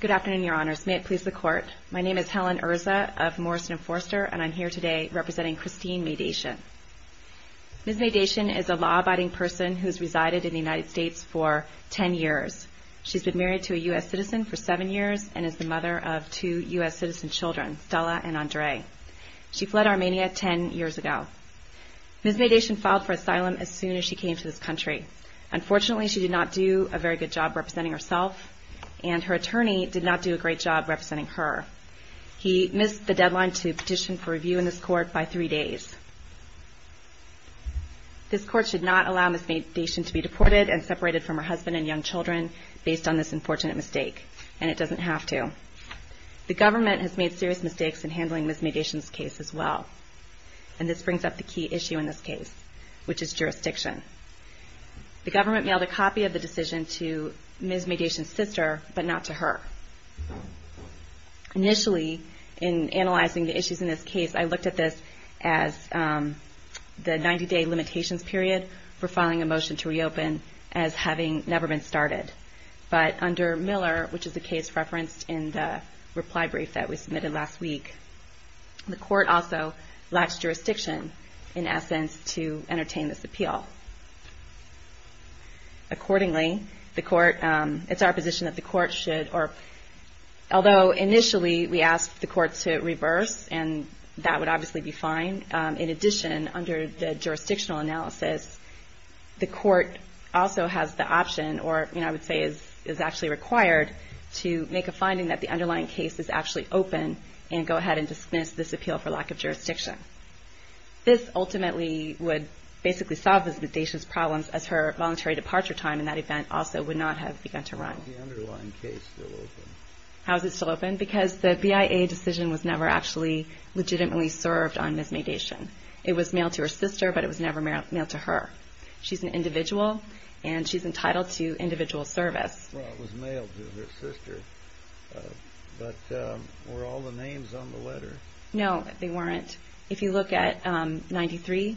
Good afternoon, Your Honors. May it please the Court. My name is Helen Erza of Morrison and Forster, and I'm here today representing Christine Maydation. Ms. Maydation is a law-abiding person who has resided in the United States for ten years. She's been married to a U.S. citizen for seven years and is the mother of two U.S. citizen children, Stella and Andre. She fled Armenia ten years ago. Ms. Maydation filed for asylum as soon as she came to this country. Unfortunately, she did not do a very good job representing herself, and her attorney did not do a great job representing her. He missed the deadline to petition for review in this Court by three days. This Court should not allow Ms. Maydation to be deported and separated from her husband and young children based on this unfortunate mistake, and it doesn't have to. The government has made serious mistakes in handling Ms. Maydation's case as well, and this brings up the key issue in this case, which is jurisdiction. The government mailed a copy of the decision to Ms. Maydation's sister, but not to her. Initially, in analyzing the issues in this case, I looked at this as the 90-day limitations period for filing a motion to reopen as having never been started. But under Miller, which is the case referenced in the reply brief that we submitted last week, the Court also lacks jurisdiction, in essence, to entertain this appeal. Accordingly, it's our position that the Court should, although initially we asked the Court to reverse, and that would obviously be fine, in addition, under the jurisdictional analysis, the Court also has the option, or I would say is actually required, to make a finding that the underlying case is actually open and go ahead and dismiss this appeal for lack of jurisdiction. This ultimately would basically solve Ms. Maydation's problems, as her voluntary departure time in that event also would not have begun to run. How is the underlying case still open? How is it still open? Because the BIA decision was never actually legitimately served on Ms. Maydation. It was mailed to her sister, but it was never mailed to her. She's an individual, and she's entitled to individual service. Well, it was mailed to her sister, but were all the names on the letter? No, they weren't. If you look at 93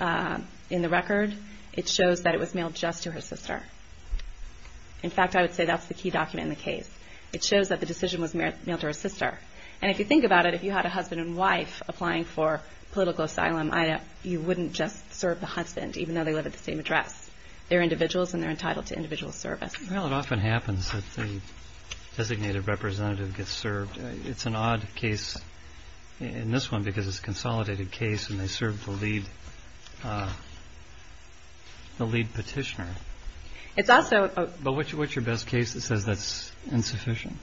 in the record, it shows that it was mailed just to her sister. In fact, I would say that's the key document in the case. It shows that the decision was mailed to her sister. And if you think about it, if you had a husband and wife applying for political asylum, you wouldn't just serve the husband, even though they live at the same address. They're individuals, and they're entitled to individual service. Well, it often happens that the designated representative gets served. It's an odd case in this one, because it's a consolidated case, and they serve the lead petitioner. But what's your best case that says that's insufficient?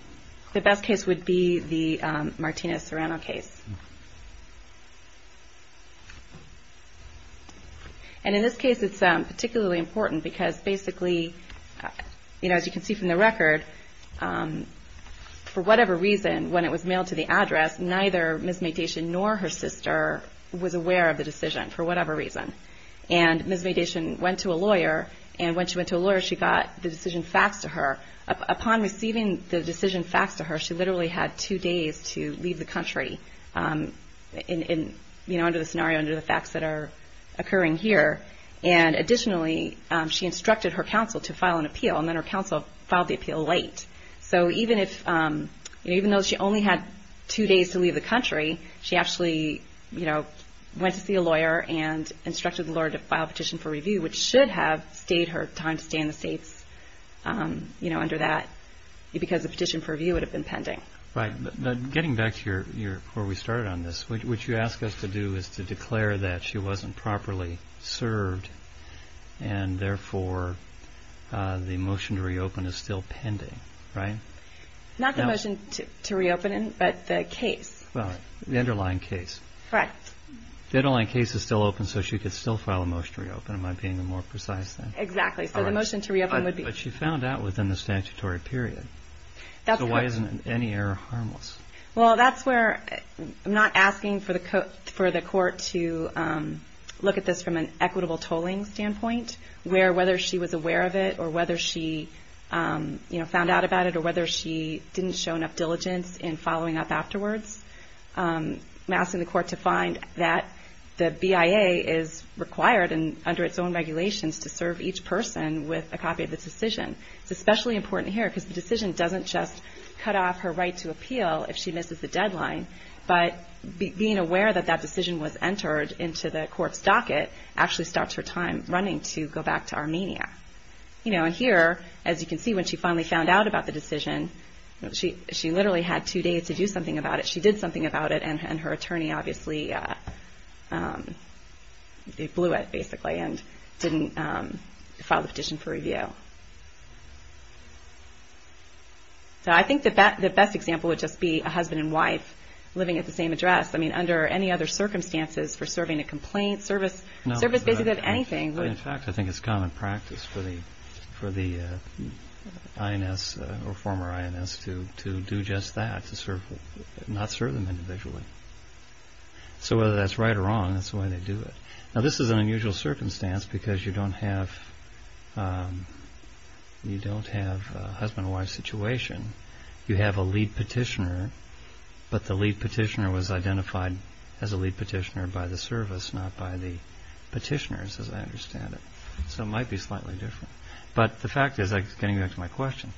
The best case would be the Martina Serrano case. And in this case, it's particularly important, because basically, as you can see from the record, for whatever reason, when it was mailed to the address, neither Ms. Maytation nor her sister was aware of the decision, for whatever reason. And Ms. Maytation went to a lawyer, and when she went to a lawyer, she got the decision faxed to her. Upon receiving the decision faxed to her, she literally had two days to leave the country under the scenario, under the facts that are occurring here. And additionally, she instructed her counsel to file an appeal, and then her counsel filed the appeal late. So even if, even though she only had two days to leave the country, she actually, you know, went to see a lawyer and instructed the lawyer to file a petition for review, which should have stayed her time to stay in the States, you know, under that, because the petition for review would have been pending. Right. Getting back to where we started on this, what you ask us to do is to declare that she wasn't properly served, and therefore, the motion to reopen is still pending, right? Not the motion to reopen, but the case. The underlying case. Right. The underlying case is still open, so she could still file a motion to reopen, if I'm being more precise. Exactly. So the motion to reopen would be... But she found out within the statutory period. That's correct. So why isn't any error harmless? Well, that's where I'm not asking for the court to look at this from an equitable tolling standpoint, where whether she was aware of it, or whether she, you know, found out about it, or whether she didn't show enough diligence in following up afterwards. I'm asking the court to find that the BIA is required, and under its own regulations, to serve each person with a copy of this decision. It's especially important here, because the decision doesn't just cut off her right to appeal if she misses the deadline, but being aware that that decision was entered into the court's docket, actually stops her time running to go back to Armenia. You know, and here, as you can see, when she finally found out about the decision, she literally had two days to do something about it. She did something about it, and her attorney obviously blew it, basically, and didn't file the petition for review. So I think the best example would just be a husband and wife living at the same address. I mean, under any other circumstances, for serving a complaint, service visit, anything. In fact, I think it's common practice for the INS, or former INS, to do just that, to serve, not serve them individually. So whether that's right or wrong, that's the way they do it. Now, this is an unusual circumstance, because you don't have a husband and wife situation. You have a lead petitioner, but the lead petitioner was identified as a lead petitioner by the service, not by the petitioners, as I understand it. So it might be slightly different. But the fact is, getting back to my question,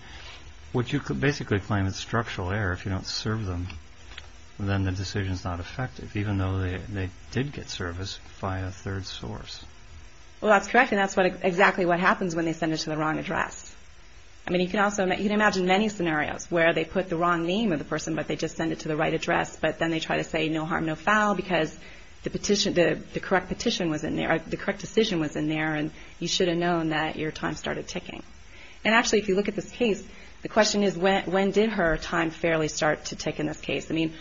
would you basically claim it's structural error if you don't serve them? Then the decision's not effective, even though they did get service via a third source. Well, that's correct, and that's exactly what happens when they send it to the wrong address. I mean, you can also imagine many scenarios where they put the wrong name of the person, but they just send it to the right address. But then they try to say, no harm, no foul, because the petition, the correct petition was in there, or the correct decision was in there, and you should have known that your time started ticking. And actually, if you look at this case, the question is, when did her time fairly start to tick in this case? I mean,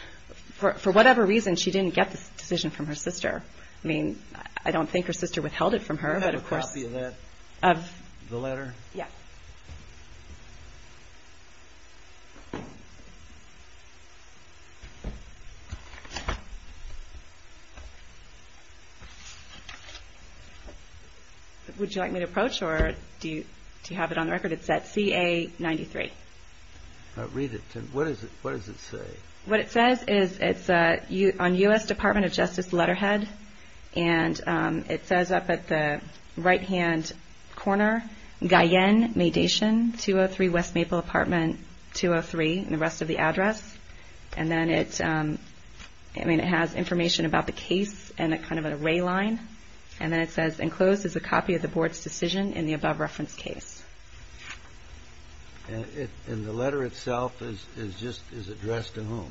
for whatever reason, she didn't get this decision from her sister. I mean, I don't think her sister withheld it from her, but of course... Would you like me to approach, or do you have it on the record? It's at CA-93. Read it. What does it say? What it says is, it's on U.S. Department of Justice letterhead, and it says up at the right-hand corner, Guyenne Maydation, 203 West Maple Apartment, 203, and the rest of the address. And then it has information about the case in a kind of an array line. And then it says, enclosed is a copy of the board's decision in the above-reference case. And the letter itself is just, is addressed to whom?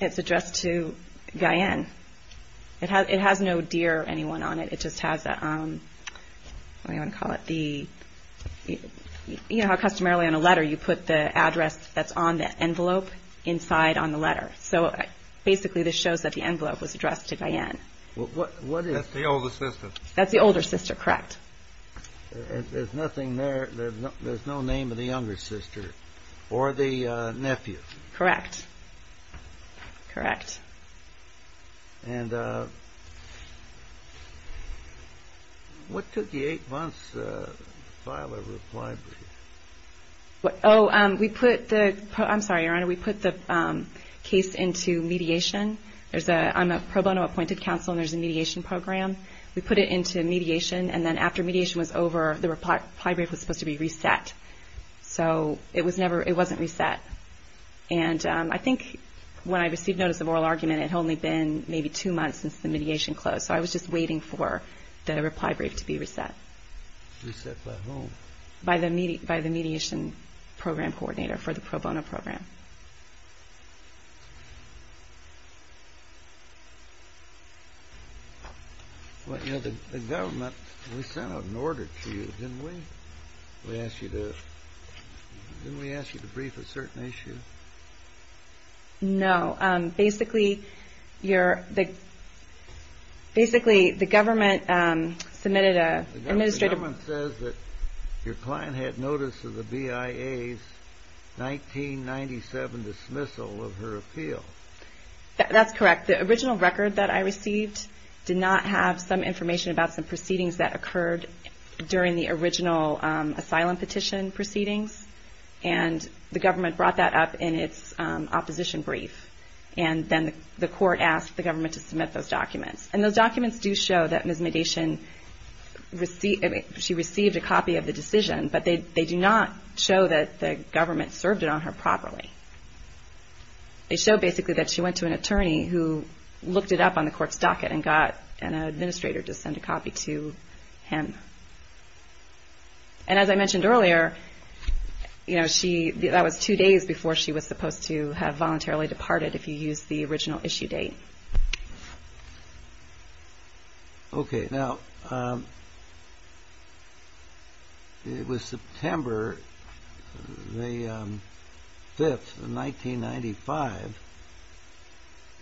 It's addressed to Guyenne. It has no dear anyone on it. It just has a, what do you want to call it? The, you know how customarily on a letter, you put the address that's on the envelope inside on the letter. So basically, this shows that the envelope was addressed to Guyenne. What is... That's the older sister. That's the older sister, correct. There's nothing there, there's no name of the younger sister, or the nephew. Correct. Correct. And what took the eight months to file a reply brief? Oh, we put the, I'm sorry, Your Honor, we put the case into mediation. There's a, I'm a pro bono appointed counsel, and there's a mediation program. We put it into mediation, and then after mediation was over, the reply brief was supposed to be reset. So it was never, it wasn't reset. And I think when I received notice of oral argument, it had only been maybe two months since the mediation closed. So I was just waiting for the reply brief to be reset. Reset by whom? By the mediation program coordinator for the pro bono program. Well, you know, the government, we sent out an order to you, didn't we? We asked you to, didn't we ask you to brief a certain issue? No. Basically, you're, basically, the government submitted an administrative... of her appeal. That's correct. The original record that I received did not have some information about some proceedings that occurred during the original asylum petition proceedings. And the government brought that up in its opposition brief. And then the court asked the government to submit those documents. And those documents do show that Ms. Mediation received, she received a copy of the decision, but they do not show that the government served it on her properly. They show, basically, that she went to an attorney who looked it up on the court's docket and got an administrator to send a copy to him. And as I mentioned earlier, you know, she, that was two days before she was supposed to have voluntarily departed, if you use the original issue date. Okay. Now, it was September the 5th of 1995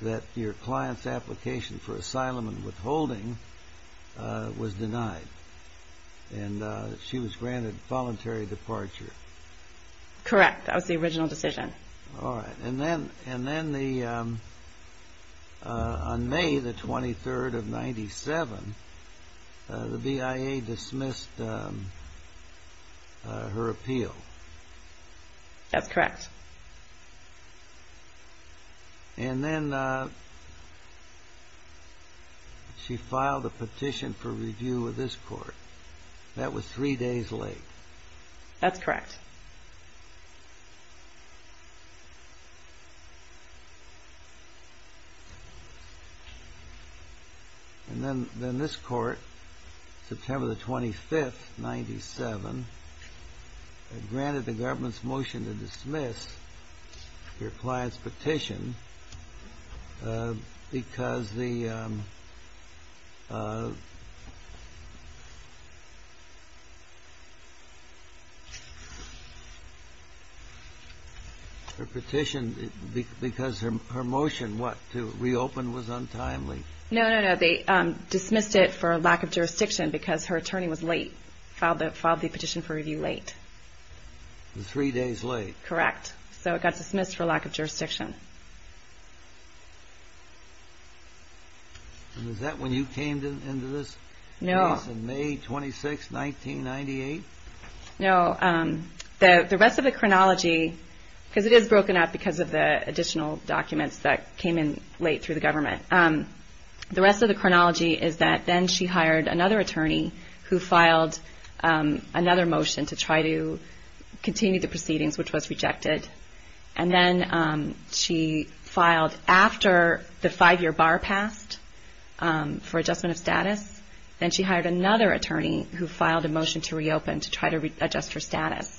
that your client's application for asylum and withholding was denied. And she was granted voluntary departure. Correct. That was the original decision. All right. And then, and then the, on May the 23rd of 1997, the BIA dismissed her appeal. That's correct. And then she filed a petition for review with this court. That was three days late. That's correct. And then, then this court, September the 25th, 1997, granted the government's motion to dismiss your client's petition because the, her petition, because her motion, what, to reopen was untimely? No, no, no. They dismissed it for lack of jurisdiction because her attorney was late, filed the petition for review late. Three days late. Correct. So it got dismissed for lack of jurisdiction. And is that when you came into this case? No. In May 26, 1998? No. The rest of the chronology, because it is broken up because of the additional documents that came in late through the government. The rest of the chronology is that then she hired another attorney who filed another motion to try to continue the proceedings, which was rejected, and then she filed after the five-year bar passed for adjustment of status. Then she hired another attorney who filed a motion to reopen to try to adjust her status.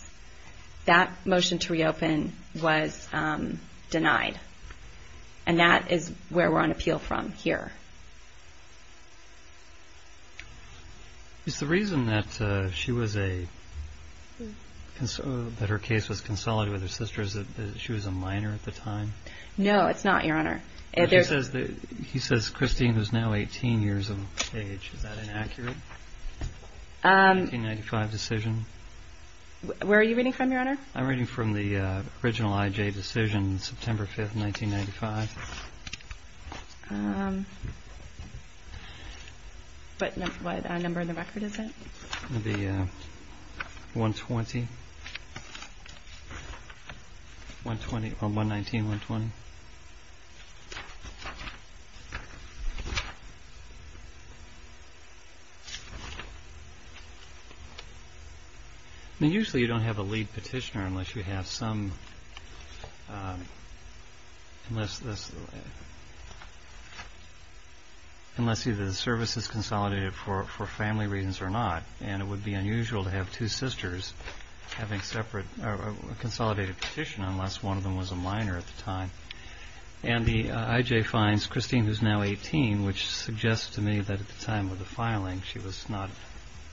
That motion to reopen was denied, and that is where we're on appeal from here. Is the reason that she was a, that her case was consolidated with her sister is that she was a minor at the time? No, it's not, Your Honor. He says Christine is now 18 years of age. Is that inaccurate? 1995 decision? Where are you reading from, Your Honor? I'm reading from the original IJ decision, September 5, 1995. But what number in the record is it? It would be 120, 119-120. Usually you don't have a lead petitioner unless you have some, unless either the service is consolidated for family reasons or not. And it would be unusual to have two sisters having separate, or a consolidated petition unless one of them was a minor at the time. And the IJ finds Christine who's now 18, which suggests to me that at the time of the filing she was not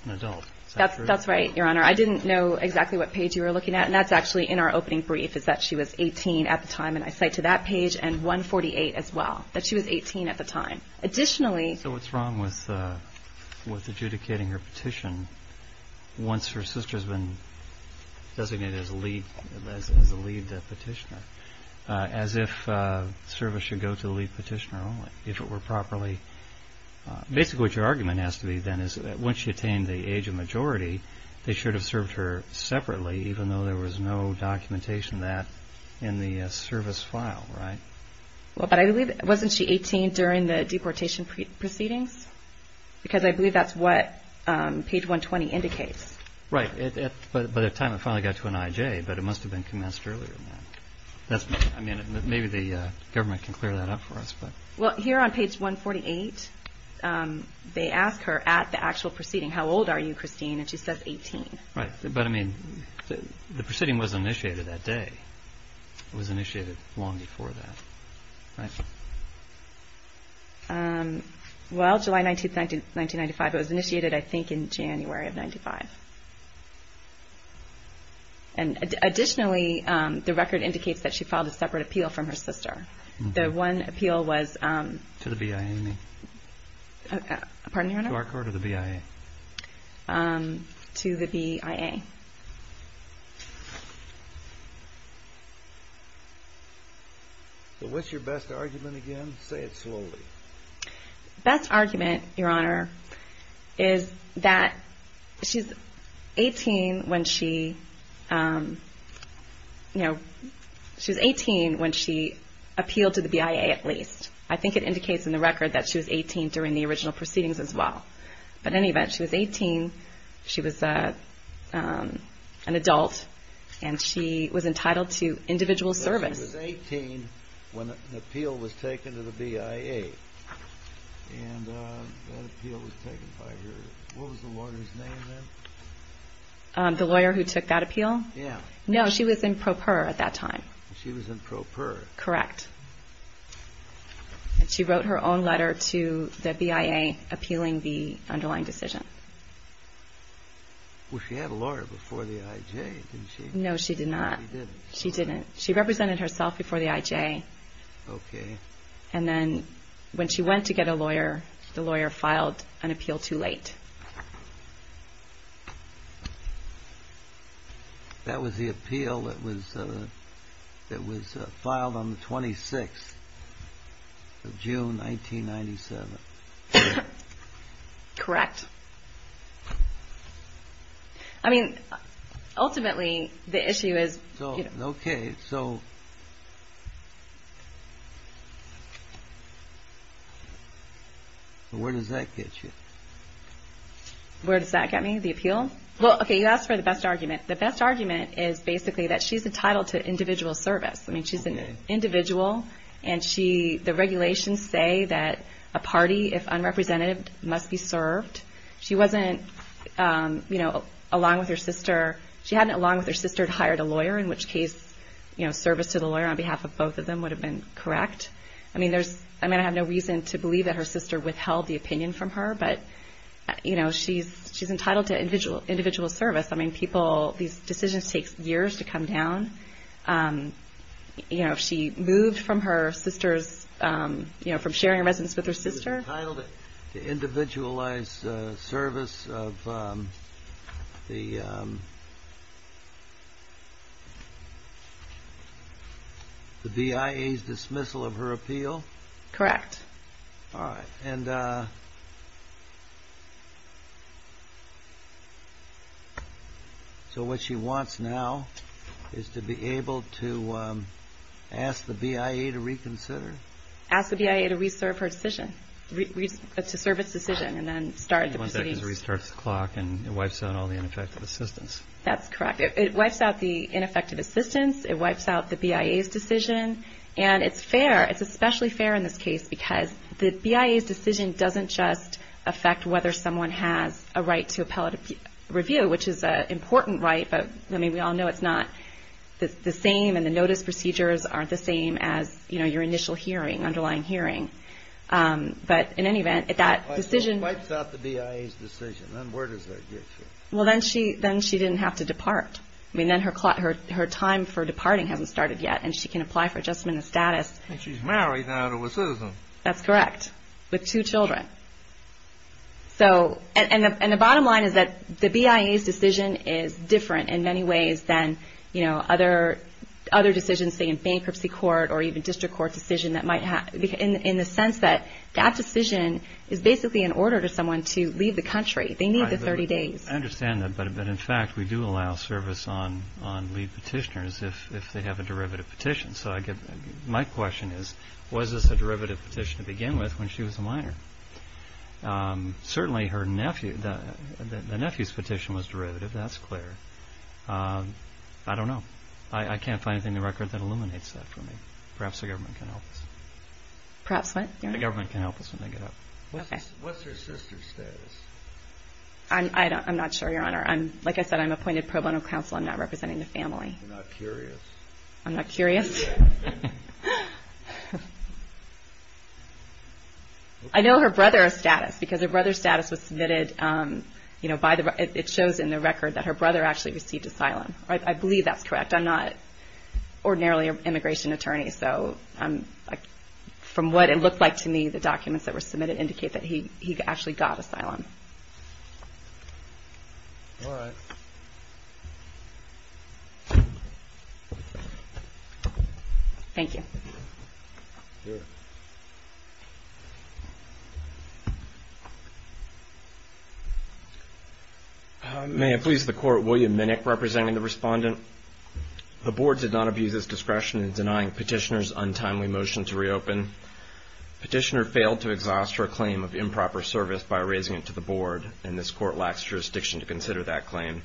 an adult. Is that true? That's right, Your Honor. I didn't know exactly what page you were looking at. And that's actually in our opening brief, is that she was 18 at the time. And I cite to that page and 148 as well, that she was 18 at the time. So what's wrong with adjudicating her petition once her sister's been designated as a lead petitioner? As if service should go to the lead petitioner only, if it were properly... Basically what your argument has to be then is that once she attained the age of majority, they should have served her separately even though there was no documentation of that in the service file, right? But wasn't she 18 during the deportation proceedings? Because I believe that's what page 120 indicates. Right. By the time it finally got to an IJ, but it must have been commenced earlier than that. Maybe the government can clear that up for us. Well, here on page 148, they ask her at the actual proceeding, How old are you, Christine? And she says 18. Right. But I mean, the proceeding was initiated that day. It was initiated long before that, right? Well, July 19, 1995. It was initiated, I think, in January of 1995. And additionally, the record indicates that she filed a separate appeal from her sister. The one appeal was... To the BIA, you mean? Pardon me, Your Honor? To our court or the BIA? To the BIA. So what's your best argument again? Say it slowly. Best argument, Your Honor, is that she's 18 when she, you know, she was 18 when she appealed to the BIA at least. I think it indicates in the record that she was 18 during the original proceedings as well. But in any event, she was 18. She was an adult, and she was entitled to individual service. But she was 18 when an appeal was taken to the BIA. And that appeal was taken by her... What was the lawyer's name then? The lawyer who took that appeal? Yeah. No, she was in Proprier at that time. She was in Proprier. Correct. She wrote her own letter to the BIA appealing the underlying decision. Well, she had a lawyer before the IJ, didn't she? No, she did not. She didn't. She didn't. She represented herself before the IJ. Okay. And then when she went to get a lawyer, the lawyer filed an appeal too late. That was the appeal that was filed on the 26th of June, 1997. Correct. I mean, ultimately, the issue is... Okay, so... Where does that get you? Where does that get me? The appeal? Well, okay, you asked for the best argument. The best argument is basically that she's entitled to individual service. I mean, she's an individual, and the regulations say that a party, if unrepresentative, must be served. She wasn't, you know, along with her sister. She hadn't, along with her sister, hired a lawyer, in which case, you know, service to the lawyer on behalf of both of them would have been correct. I mean, there's... I mean, I have no reason to believe that her sister withheld the opinion from her, but, you know, she's entitled to individual service. I mean, people... These decisions take years to come down. You know, if she moved from her sister's, you know, from sharing a residence with her sister... She's entitled to individualized service of the BIA's dismissal of her appeal? Correct. All right, and... So what she wants now is to be able to ask the BIA to reconsider? Ask the BIA to reserve her decision, to serve its decision, and then start the proceedings. One second to restart the clock, and it wipes out all the ineffective assistance. That's correct. It wipes out the ineffective assistance. It wipes out the BIA's decision, and it's fair. It's especially fair in this case because the BIA's decision doesn't just affect whether someone has a right to appellate review, which is an important right, but, I mean, we all know it's not the same, and the notice procedures aren't the same as, you know, your initial hearing, underlying hearing. But, in any event, that decision... It wipes out the BIA's decision. Then where does that get you? Well, then she didn't have to depart. I mean, then her time for departing hasn't started yet, and she can apply for adjustment of status. And she's married now to a citizen. That's correct, with two children. And the bottom line is that the BIA's decision is different in many ways than, you know, other decisions, say, in bankruptcy court or even district court decision, in the sense that that decision is basically an order to someone to leave the country. They need the 30 days. I understand that, but, in fact, we do allow service on lead petitioners if they have a derivative petition. So my question is, was this a derivative petition to begin with when she was a minor? Certainly, the nephew's petition was derivative. That's clear. I don't know. I can't find anything in the record that illuminates that for me. Perhaps the government can help us. Perhaps what, Your Honor? The government can help us when they get up. Okay. What's her sister's status? I'm not sure, Your Honor. Like I said, I'm appointed pro bono counsel. I'm not representing the family. I'm not curious. I'm not curious. I know her brother's status because her brother's status was submitted, you know, by the – it shows in the record that her brother actually received asylum. I believe that's correct. I'm not ordinarily an immigration attorney. So from what it looked like to me, the documents that were submitted indicate that he actually got asylum. All right. Thank you. Sure. May it please the Court, William Minnick representing the Respondent. The Board did not abuse its discretion in denying Petitioner's untimely motion to reopen. Petitioner failed to exhaust her claim of improper service by raising it to the Board, and this Court lacks jurisdiction to consider that claim.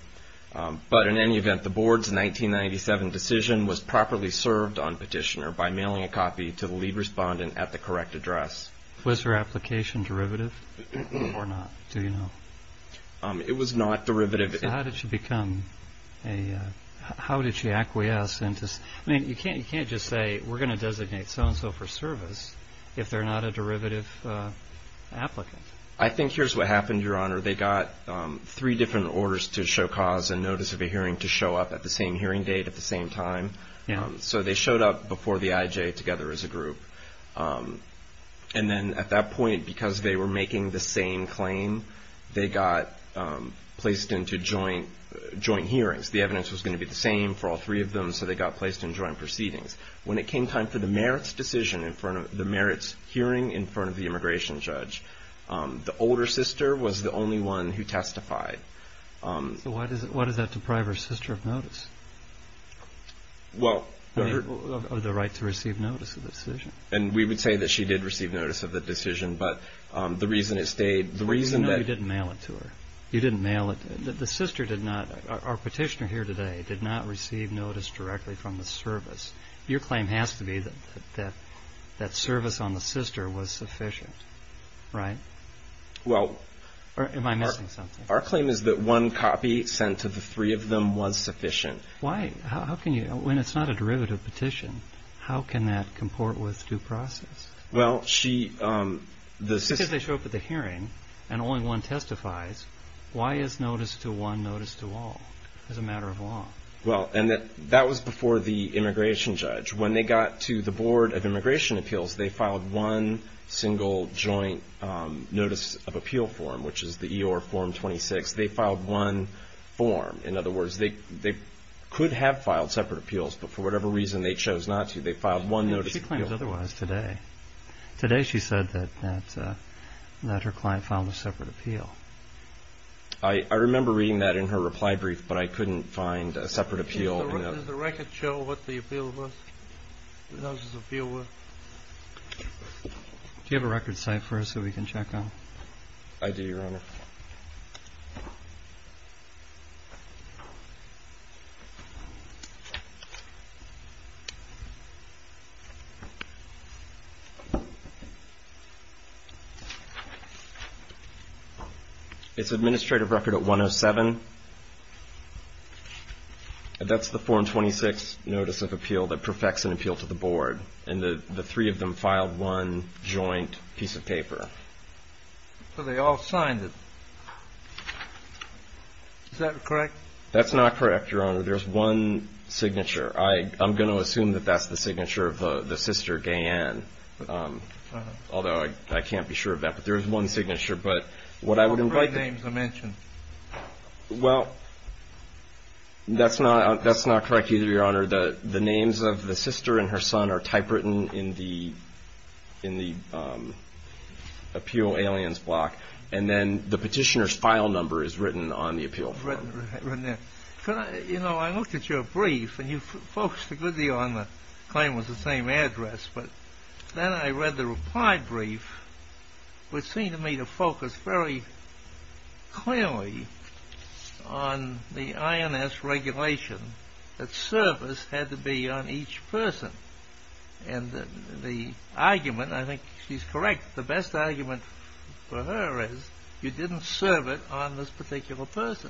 But in any event, the Board's 1997 decision was properly served on Petitioner by mailing a copy to the lead respondent at the correct address. Was her application derivative or not? Do you know? It was not derivative. So how did she become a – how did she acquiesce into – I mean, you can't just say, we're going to designate so-and-so for service if they're not a derivative applicant. I think here's what happened, Your Honor. They got three different orders to show cause and notice of a hearing to show up at the same hearing date at the same time. So they showed up before the IJ together as a group. And then at that point, because they were making the same claim, they got placed into joint hearings. The evidence was going to be the same for all three of them, so they got placed in joint proceedings. When it came time for the merits decision in front of – the merits hearing in front of the immigration judge, the older sister was the only one who testified. So why does that deprive her sister of notice? Well, her – Or the right to receive notice of the decision. And we would say that she did receive notice of the decision, but the reason it stayed – the reason that – No, you didn't mail it to her. You didn't mail it. The sister did not – our petitioner here today did not receive notice directly from the service. Your claim has to be that that service on the sister was sufficient, right? Well – Or am I missing something? Our claim is that one copy sent to the three of them was sufficient. Why – how can you – when it's not a derivative petition, how can that comport with due process? Well, she – the sister – Well, and that was before the immigration judge. When they got to the Board of Immigration Appeals, they filed one single joint notice of appeal form, which is the EOR Form 26. They filed one form. In other words, they could have filed separate appeals, but for whatever reason they chose not to, they filed one notice of appeal. She claims otherwise today. Today she said that her client filed a separate appeal. I remember reading that in her reply brief, but I couldn't find a separate appeal. Does the record show what the appeal was? The notice of appeal was? Do you have a record site for us so we can check on it? I do, Your Honor. It's administrative record at 107. That's the Form 26 notice of appeal that perfects an appeal to the Board, and the three of them filed one joint piece of paper. So they all signed it. Is that correct? That's not correct, Your Honor. There's one signature. I'm going to assume that that's the signature of the sister, Gay-Ann, although I can't be sure of that. There is one signature, but what I would invite... What were the names I mentioned? Well, that's not correct either, Your Honor. The names of the sister and her son are typewritten in the appeal aliens block, and then the petitioner's file number is written on the appeal form. Written there. You know, I looked at your brief, and you focused a good deal on the claim was the same address, but then I read the reply brief, which seemed to me to focus very clearly on the INS regulation that service had to be on each person. And the argument, I think she's correct, the best argument for her is you didn't serve it on this particular person.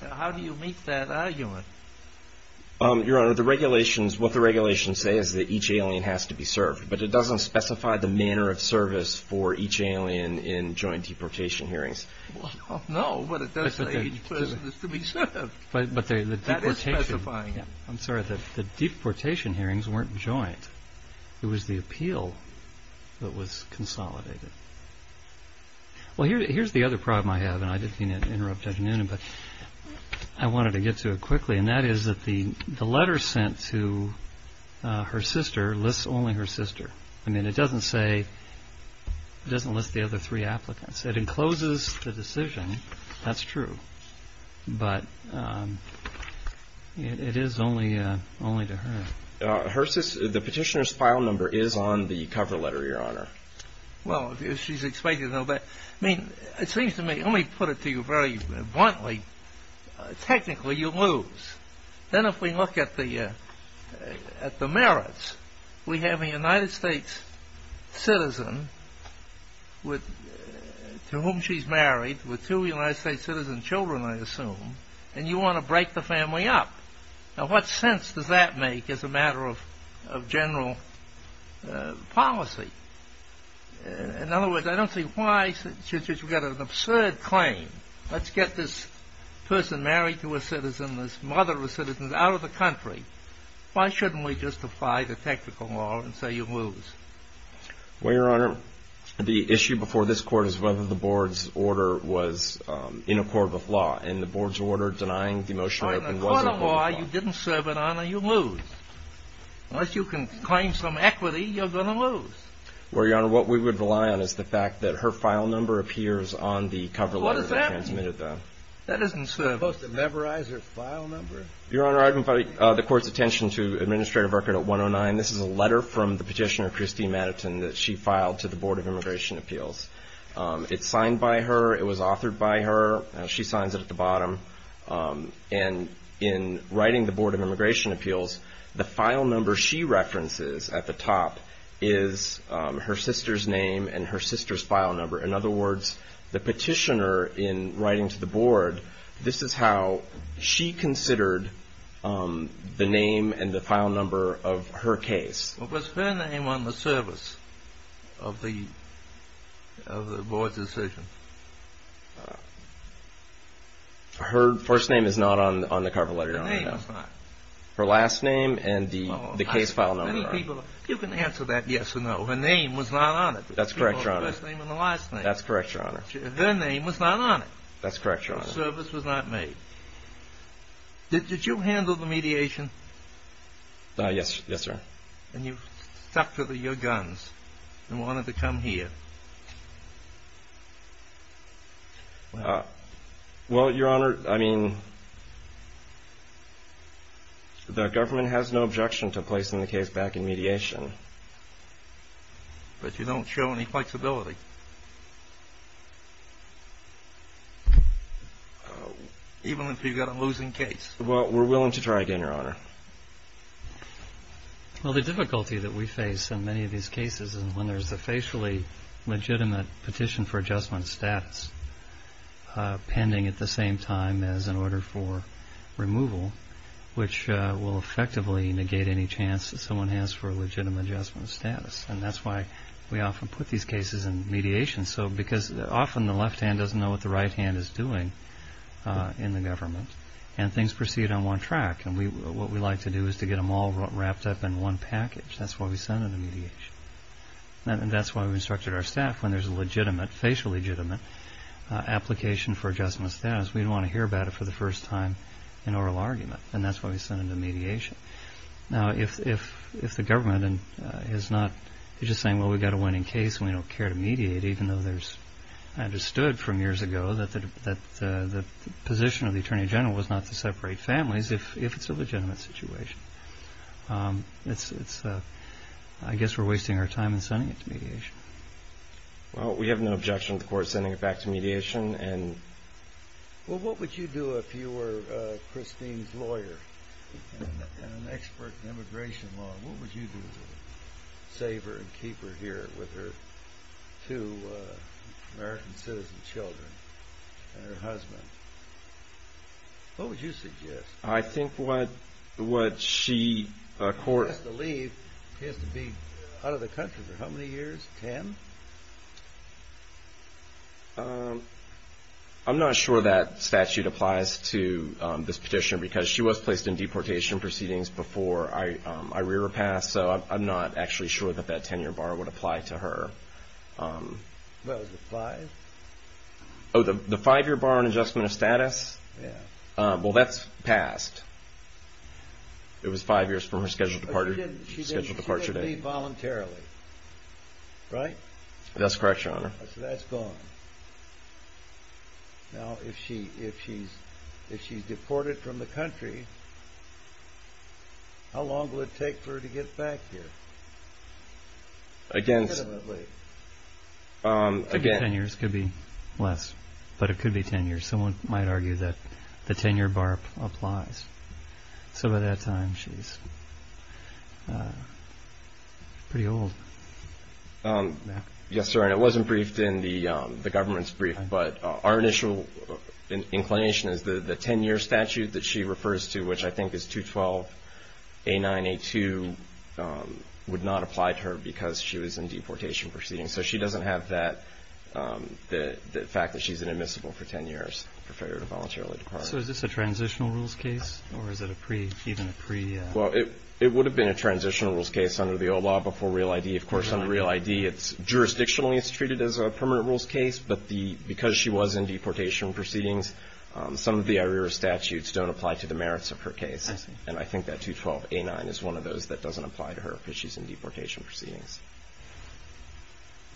How do you meet that argument? Your Honor, what the regulations say is that each alien has to be served, but it doesn't specify the manner of service for each alien in joint deportation hearings. No, but it does say each person is to be served. That is specifying it. I'm sorry, the deportation hearings weren't joint. It was the appeal that was consolidated. Well, here's the other problem I have, and I didn't mean to interrupt Judge Noonan, but I wanted to get to it quickly, and that is that the letter sent to her sister lists only her sister. I mean, it doesn't list the other three applicants. It encloses the decision. That's true. But it is only to her. The petitioner's file number is on the cover letter, Your Honor. Well, she's explained it a little bit. I mean, it seems to me, let me put it to you very bluntly, technically you lose. Then if we look at the merits, we have a United States citizen to whom she's married, with two United States citizen children, I assume, and you want to break the family up. Now, what sense does that make as a matter of general policy? In other words, I don't see why should you get an absurd claim. Let's get this person married to a citizen, this mother of a citizen, out of the country. Why shouldn't we just apply the technical law and say you lose? Well, Your Honor, the issue before this Court is whether the Board's order was in accord with law, and the Board's order denying the motion of open wasn't in accord with law. That's why you didn't serve an honor, you lose. Unless you can claim some equity, you're going to lose. Well, Your Honor, what we would rely on is the fact that her file number appears on the cover letter. What does that mean? That doesn't serve an honor. You're supposed to memorize her file number. Your Honor, I would invite the Court's attention to Administrative Record 109. This is a letter from the petitioner, Christine Matterton, that she filed to the Board of Immigration Appeals. It's signed by her. It was authored by her. She signs it at the bottom. And in writing the Board of Immigration Appeals, the file number she references at the top is her sister's name and her sister's file number. In other words, the petitioner, in writing to the Board, this is how she considered the name and the file number of her case. Was her name on the service of the Board's decision? Her first name is not on the cover letter. Her name is not. Her last name and the case file number are. You can answer that yes or no. Her name was not on it. That's correct, Your Honor. The first name and the last name. That's correct, Your Honor. Their name was not on it. That's correct, Your Honor. The service was not made. Did you handle the mediation? Yes, sir. And you stuck to your guns and wanted to come here. Well, Your Honor, I mean, the government has no objection to placing the case back in mediation. But you don't show any flexibility, even if you've got a losing case. Well, we're willing to try again, Your Honor. Well, the difficulty that we face in many of these cases is when there's a facially legitimate petition for adjustment status pending at the same time as an order for removal, which will effectively negate any chance that someone has for a legitimate adjustment status. And that's why we often put these cases in mediation, because often the left hand doesn't know what the right hand is doing in the government. And things proceed on one track. And what we like to do is to get them all wrapped up in one package. That's why we send them to mediation. And that's why we instructed our staff, when there's a legitimate, facial legitimate, application for adjustment status, we want to hear about it for the first time in oral argument. And that's why we send them to mediation. Now, if the government is just saying, well, we've got a winning case and we don't care to mediate, even though there's understood from years ago that the position of the Attorney General was not to separate families if it's a legitimate situation. I guess we're wasting our time in sending it to mediation. Well, we have no objection to the court sending it back to mediation. Well, what would you do if you were Christine's lawyer and an expert in immigration law? What would you do to save her and keep her here with her two American citizen children and her husband? What would you suggest? I think what she... He has to leave. He has to be out of the country for how many years? Ten? I'm not sure that statute applies to this petition because she was placed in deportation proceedings before I rear her past, so I'm not actually sure that that ten-year bar would apply to her. What was it, five? Oh, the five-year bar on adjustment of status? Yeah. Well, that's passed. It was five years from her scheduled departure date. Right? That's correct, Your Honor. So that's gone. Now, if she's deported from the country, how long will it take for her to get back here? Again, ten years could be less, but it could be ten years. Someone might argue that the ten-year bar applies. So by that time, she's pretty old. Yes, sir, and it wasn't briefed in the government's brief, but our initial inclination is the ten-year statute that she refers to, which I think is 212A9A2, would not apply to her because she was in deportation proceedings. So she doesn't have the fact that she's inadmissible for ten years for failure to voluntarily depart. So is this a transitional rules case, or is it even a pre-? Well, it would have been a transitional rules case under the old law before Real ID. Of course, on Real ID, it's jurisdictionally treated as a permanent rules case, but because she was in deportation proceedings, some of the IRERA statutes don't apply to the merits of her case, and I think that 212A9 is one of those that doesn't apply to her because she's in deportation proceedings.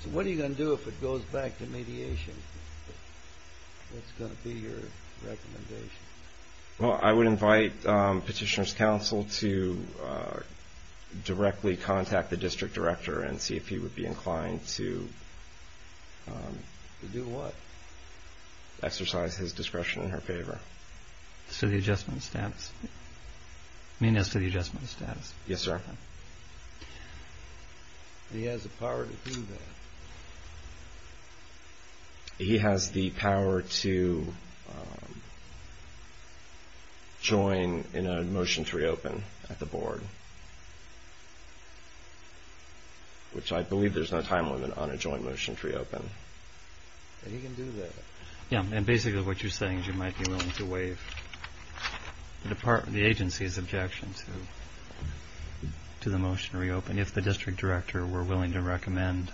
So what are you going to do if it goes back to mediation? What's going to be your recommendation? Well, I would invite Petitioner's Counsel to directly contact the district director and see if he would be inclined to exercise his discretion in her favor. So the adjustment of status? You mean as to the adjustment of status? Yes, sir. He has the power to do that. He has the power to join in a motion to reopen at the board, which I believe there's no time limit on a joint motion to reopen. He can do that. Yeah, and basically what you're saying is you might be willing to waive the agency's objection to the motion to reopen if the district director were willing to recommend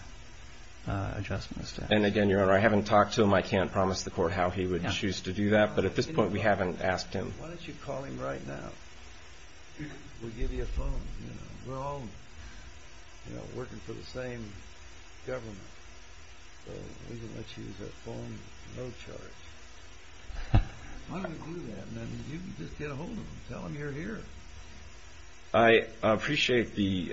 adjustments. And again, Your Honor, I haven't talked to him. I can't promise the court how he would choose to do that, but at this point we haven't asked him. Why don't you call him right now? We'll give you a phone. We're all working for the same government. So we can let you use that phone, no charge. Why don't we do that, and then you can just get ahold of him and tell him you're here. I appreciate the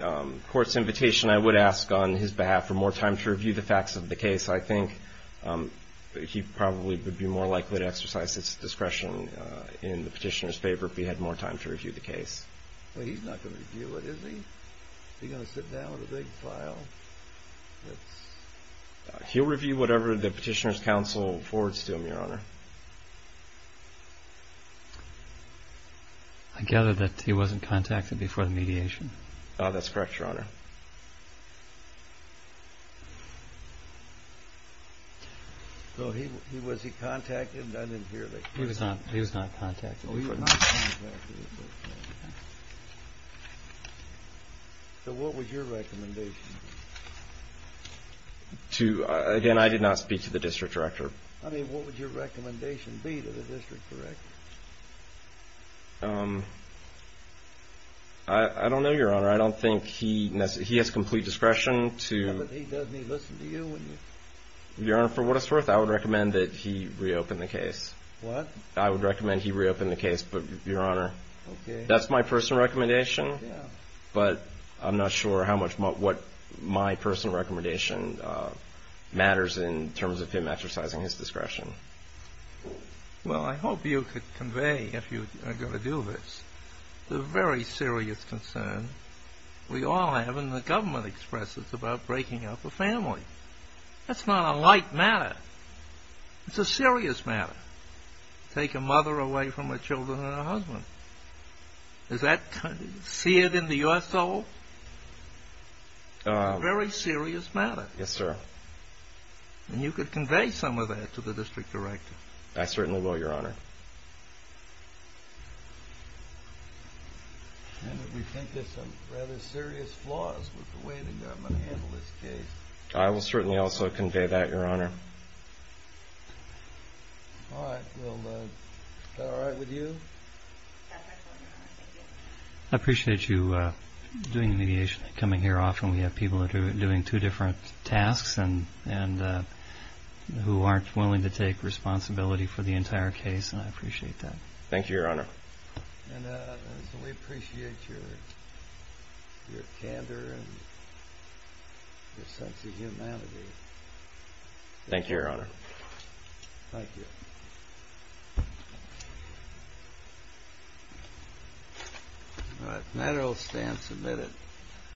court's invitation. I would ask on his behalf for more time to review the facts of the case. I think he probably would be more likely to exercise his discretion in the petitioner's favor if he had more time to review the case. Well, he's not going to review it, is he? Is he going to sit down with a big file? He'll review whatever the petitioner's counsel forwards to him, Your Honor. I gather that he wasn't contacted before the mediation. That's correct, Your Honor. So was he contacted? I didn't hear that. He was not contacted. Oh, he was not contacted. So what was your recommendation? Again, I did not speak to the district director. I mean, what would your recommendation be to the district director? I don't know, Your Honor. I don't think he has complete discretion to ---- He doesn't listen to you? Your Honor, for what it's worth, I would recommend that he reopen the case. What? I would recommend he reopen the case, but, Your Honor, that's my personal recommendation. Yeah. But I'm not sure how much what my personal recommendation matters in terms of him exercising his discretion. Well, I hope you could convey, if you are going to do this, the very serious concern we all have, and the government expresses, about breaking up a family. That's not a light matter. It's a serious matter to take a mother away from her children and her husband. Is that seared into your soul? It's a very serious matter. Yes, sir. And you could convey some of that to the district director. I certainly will, Your Honor. We think there's some rather serious flaws with the way the government handled this case. I will certainly also convey that, Your Honor. All right. Is that all right with you? I appreciate you doing the mediation and coming here often. We have people who are doing two different tasks and who aren't willing to take responsibility for the entire case, and I appreciate that. Thank you, Your Honor. And we appreciate your candor and your sense of humanity. Thank you, Your Honor. Thank you. All right. Materials stand submitted.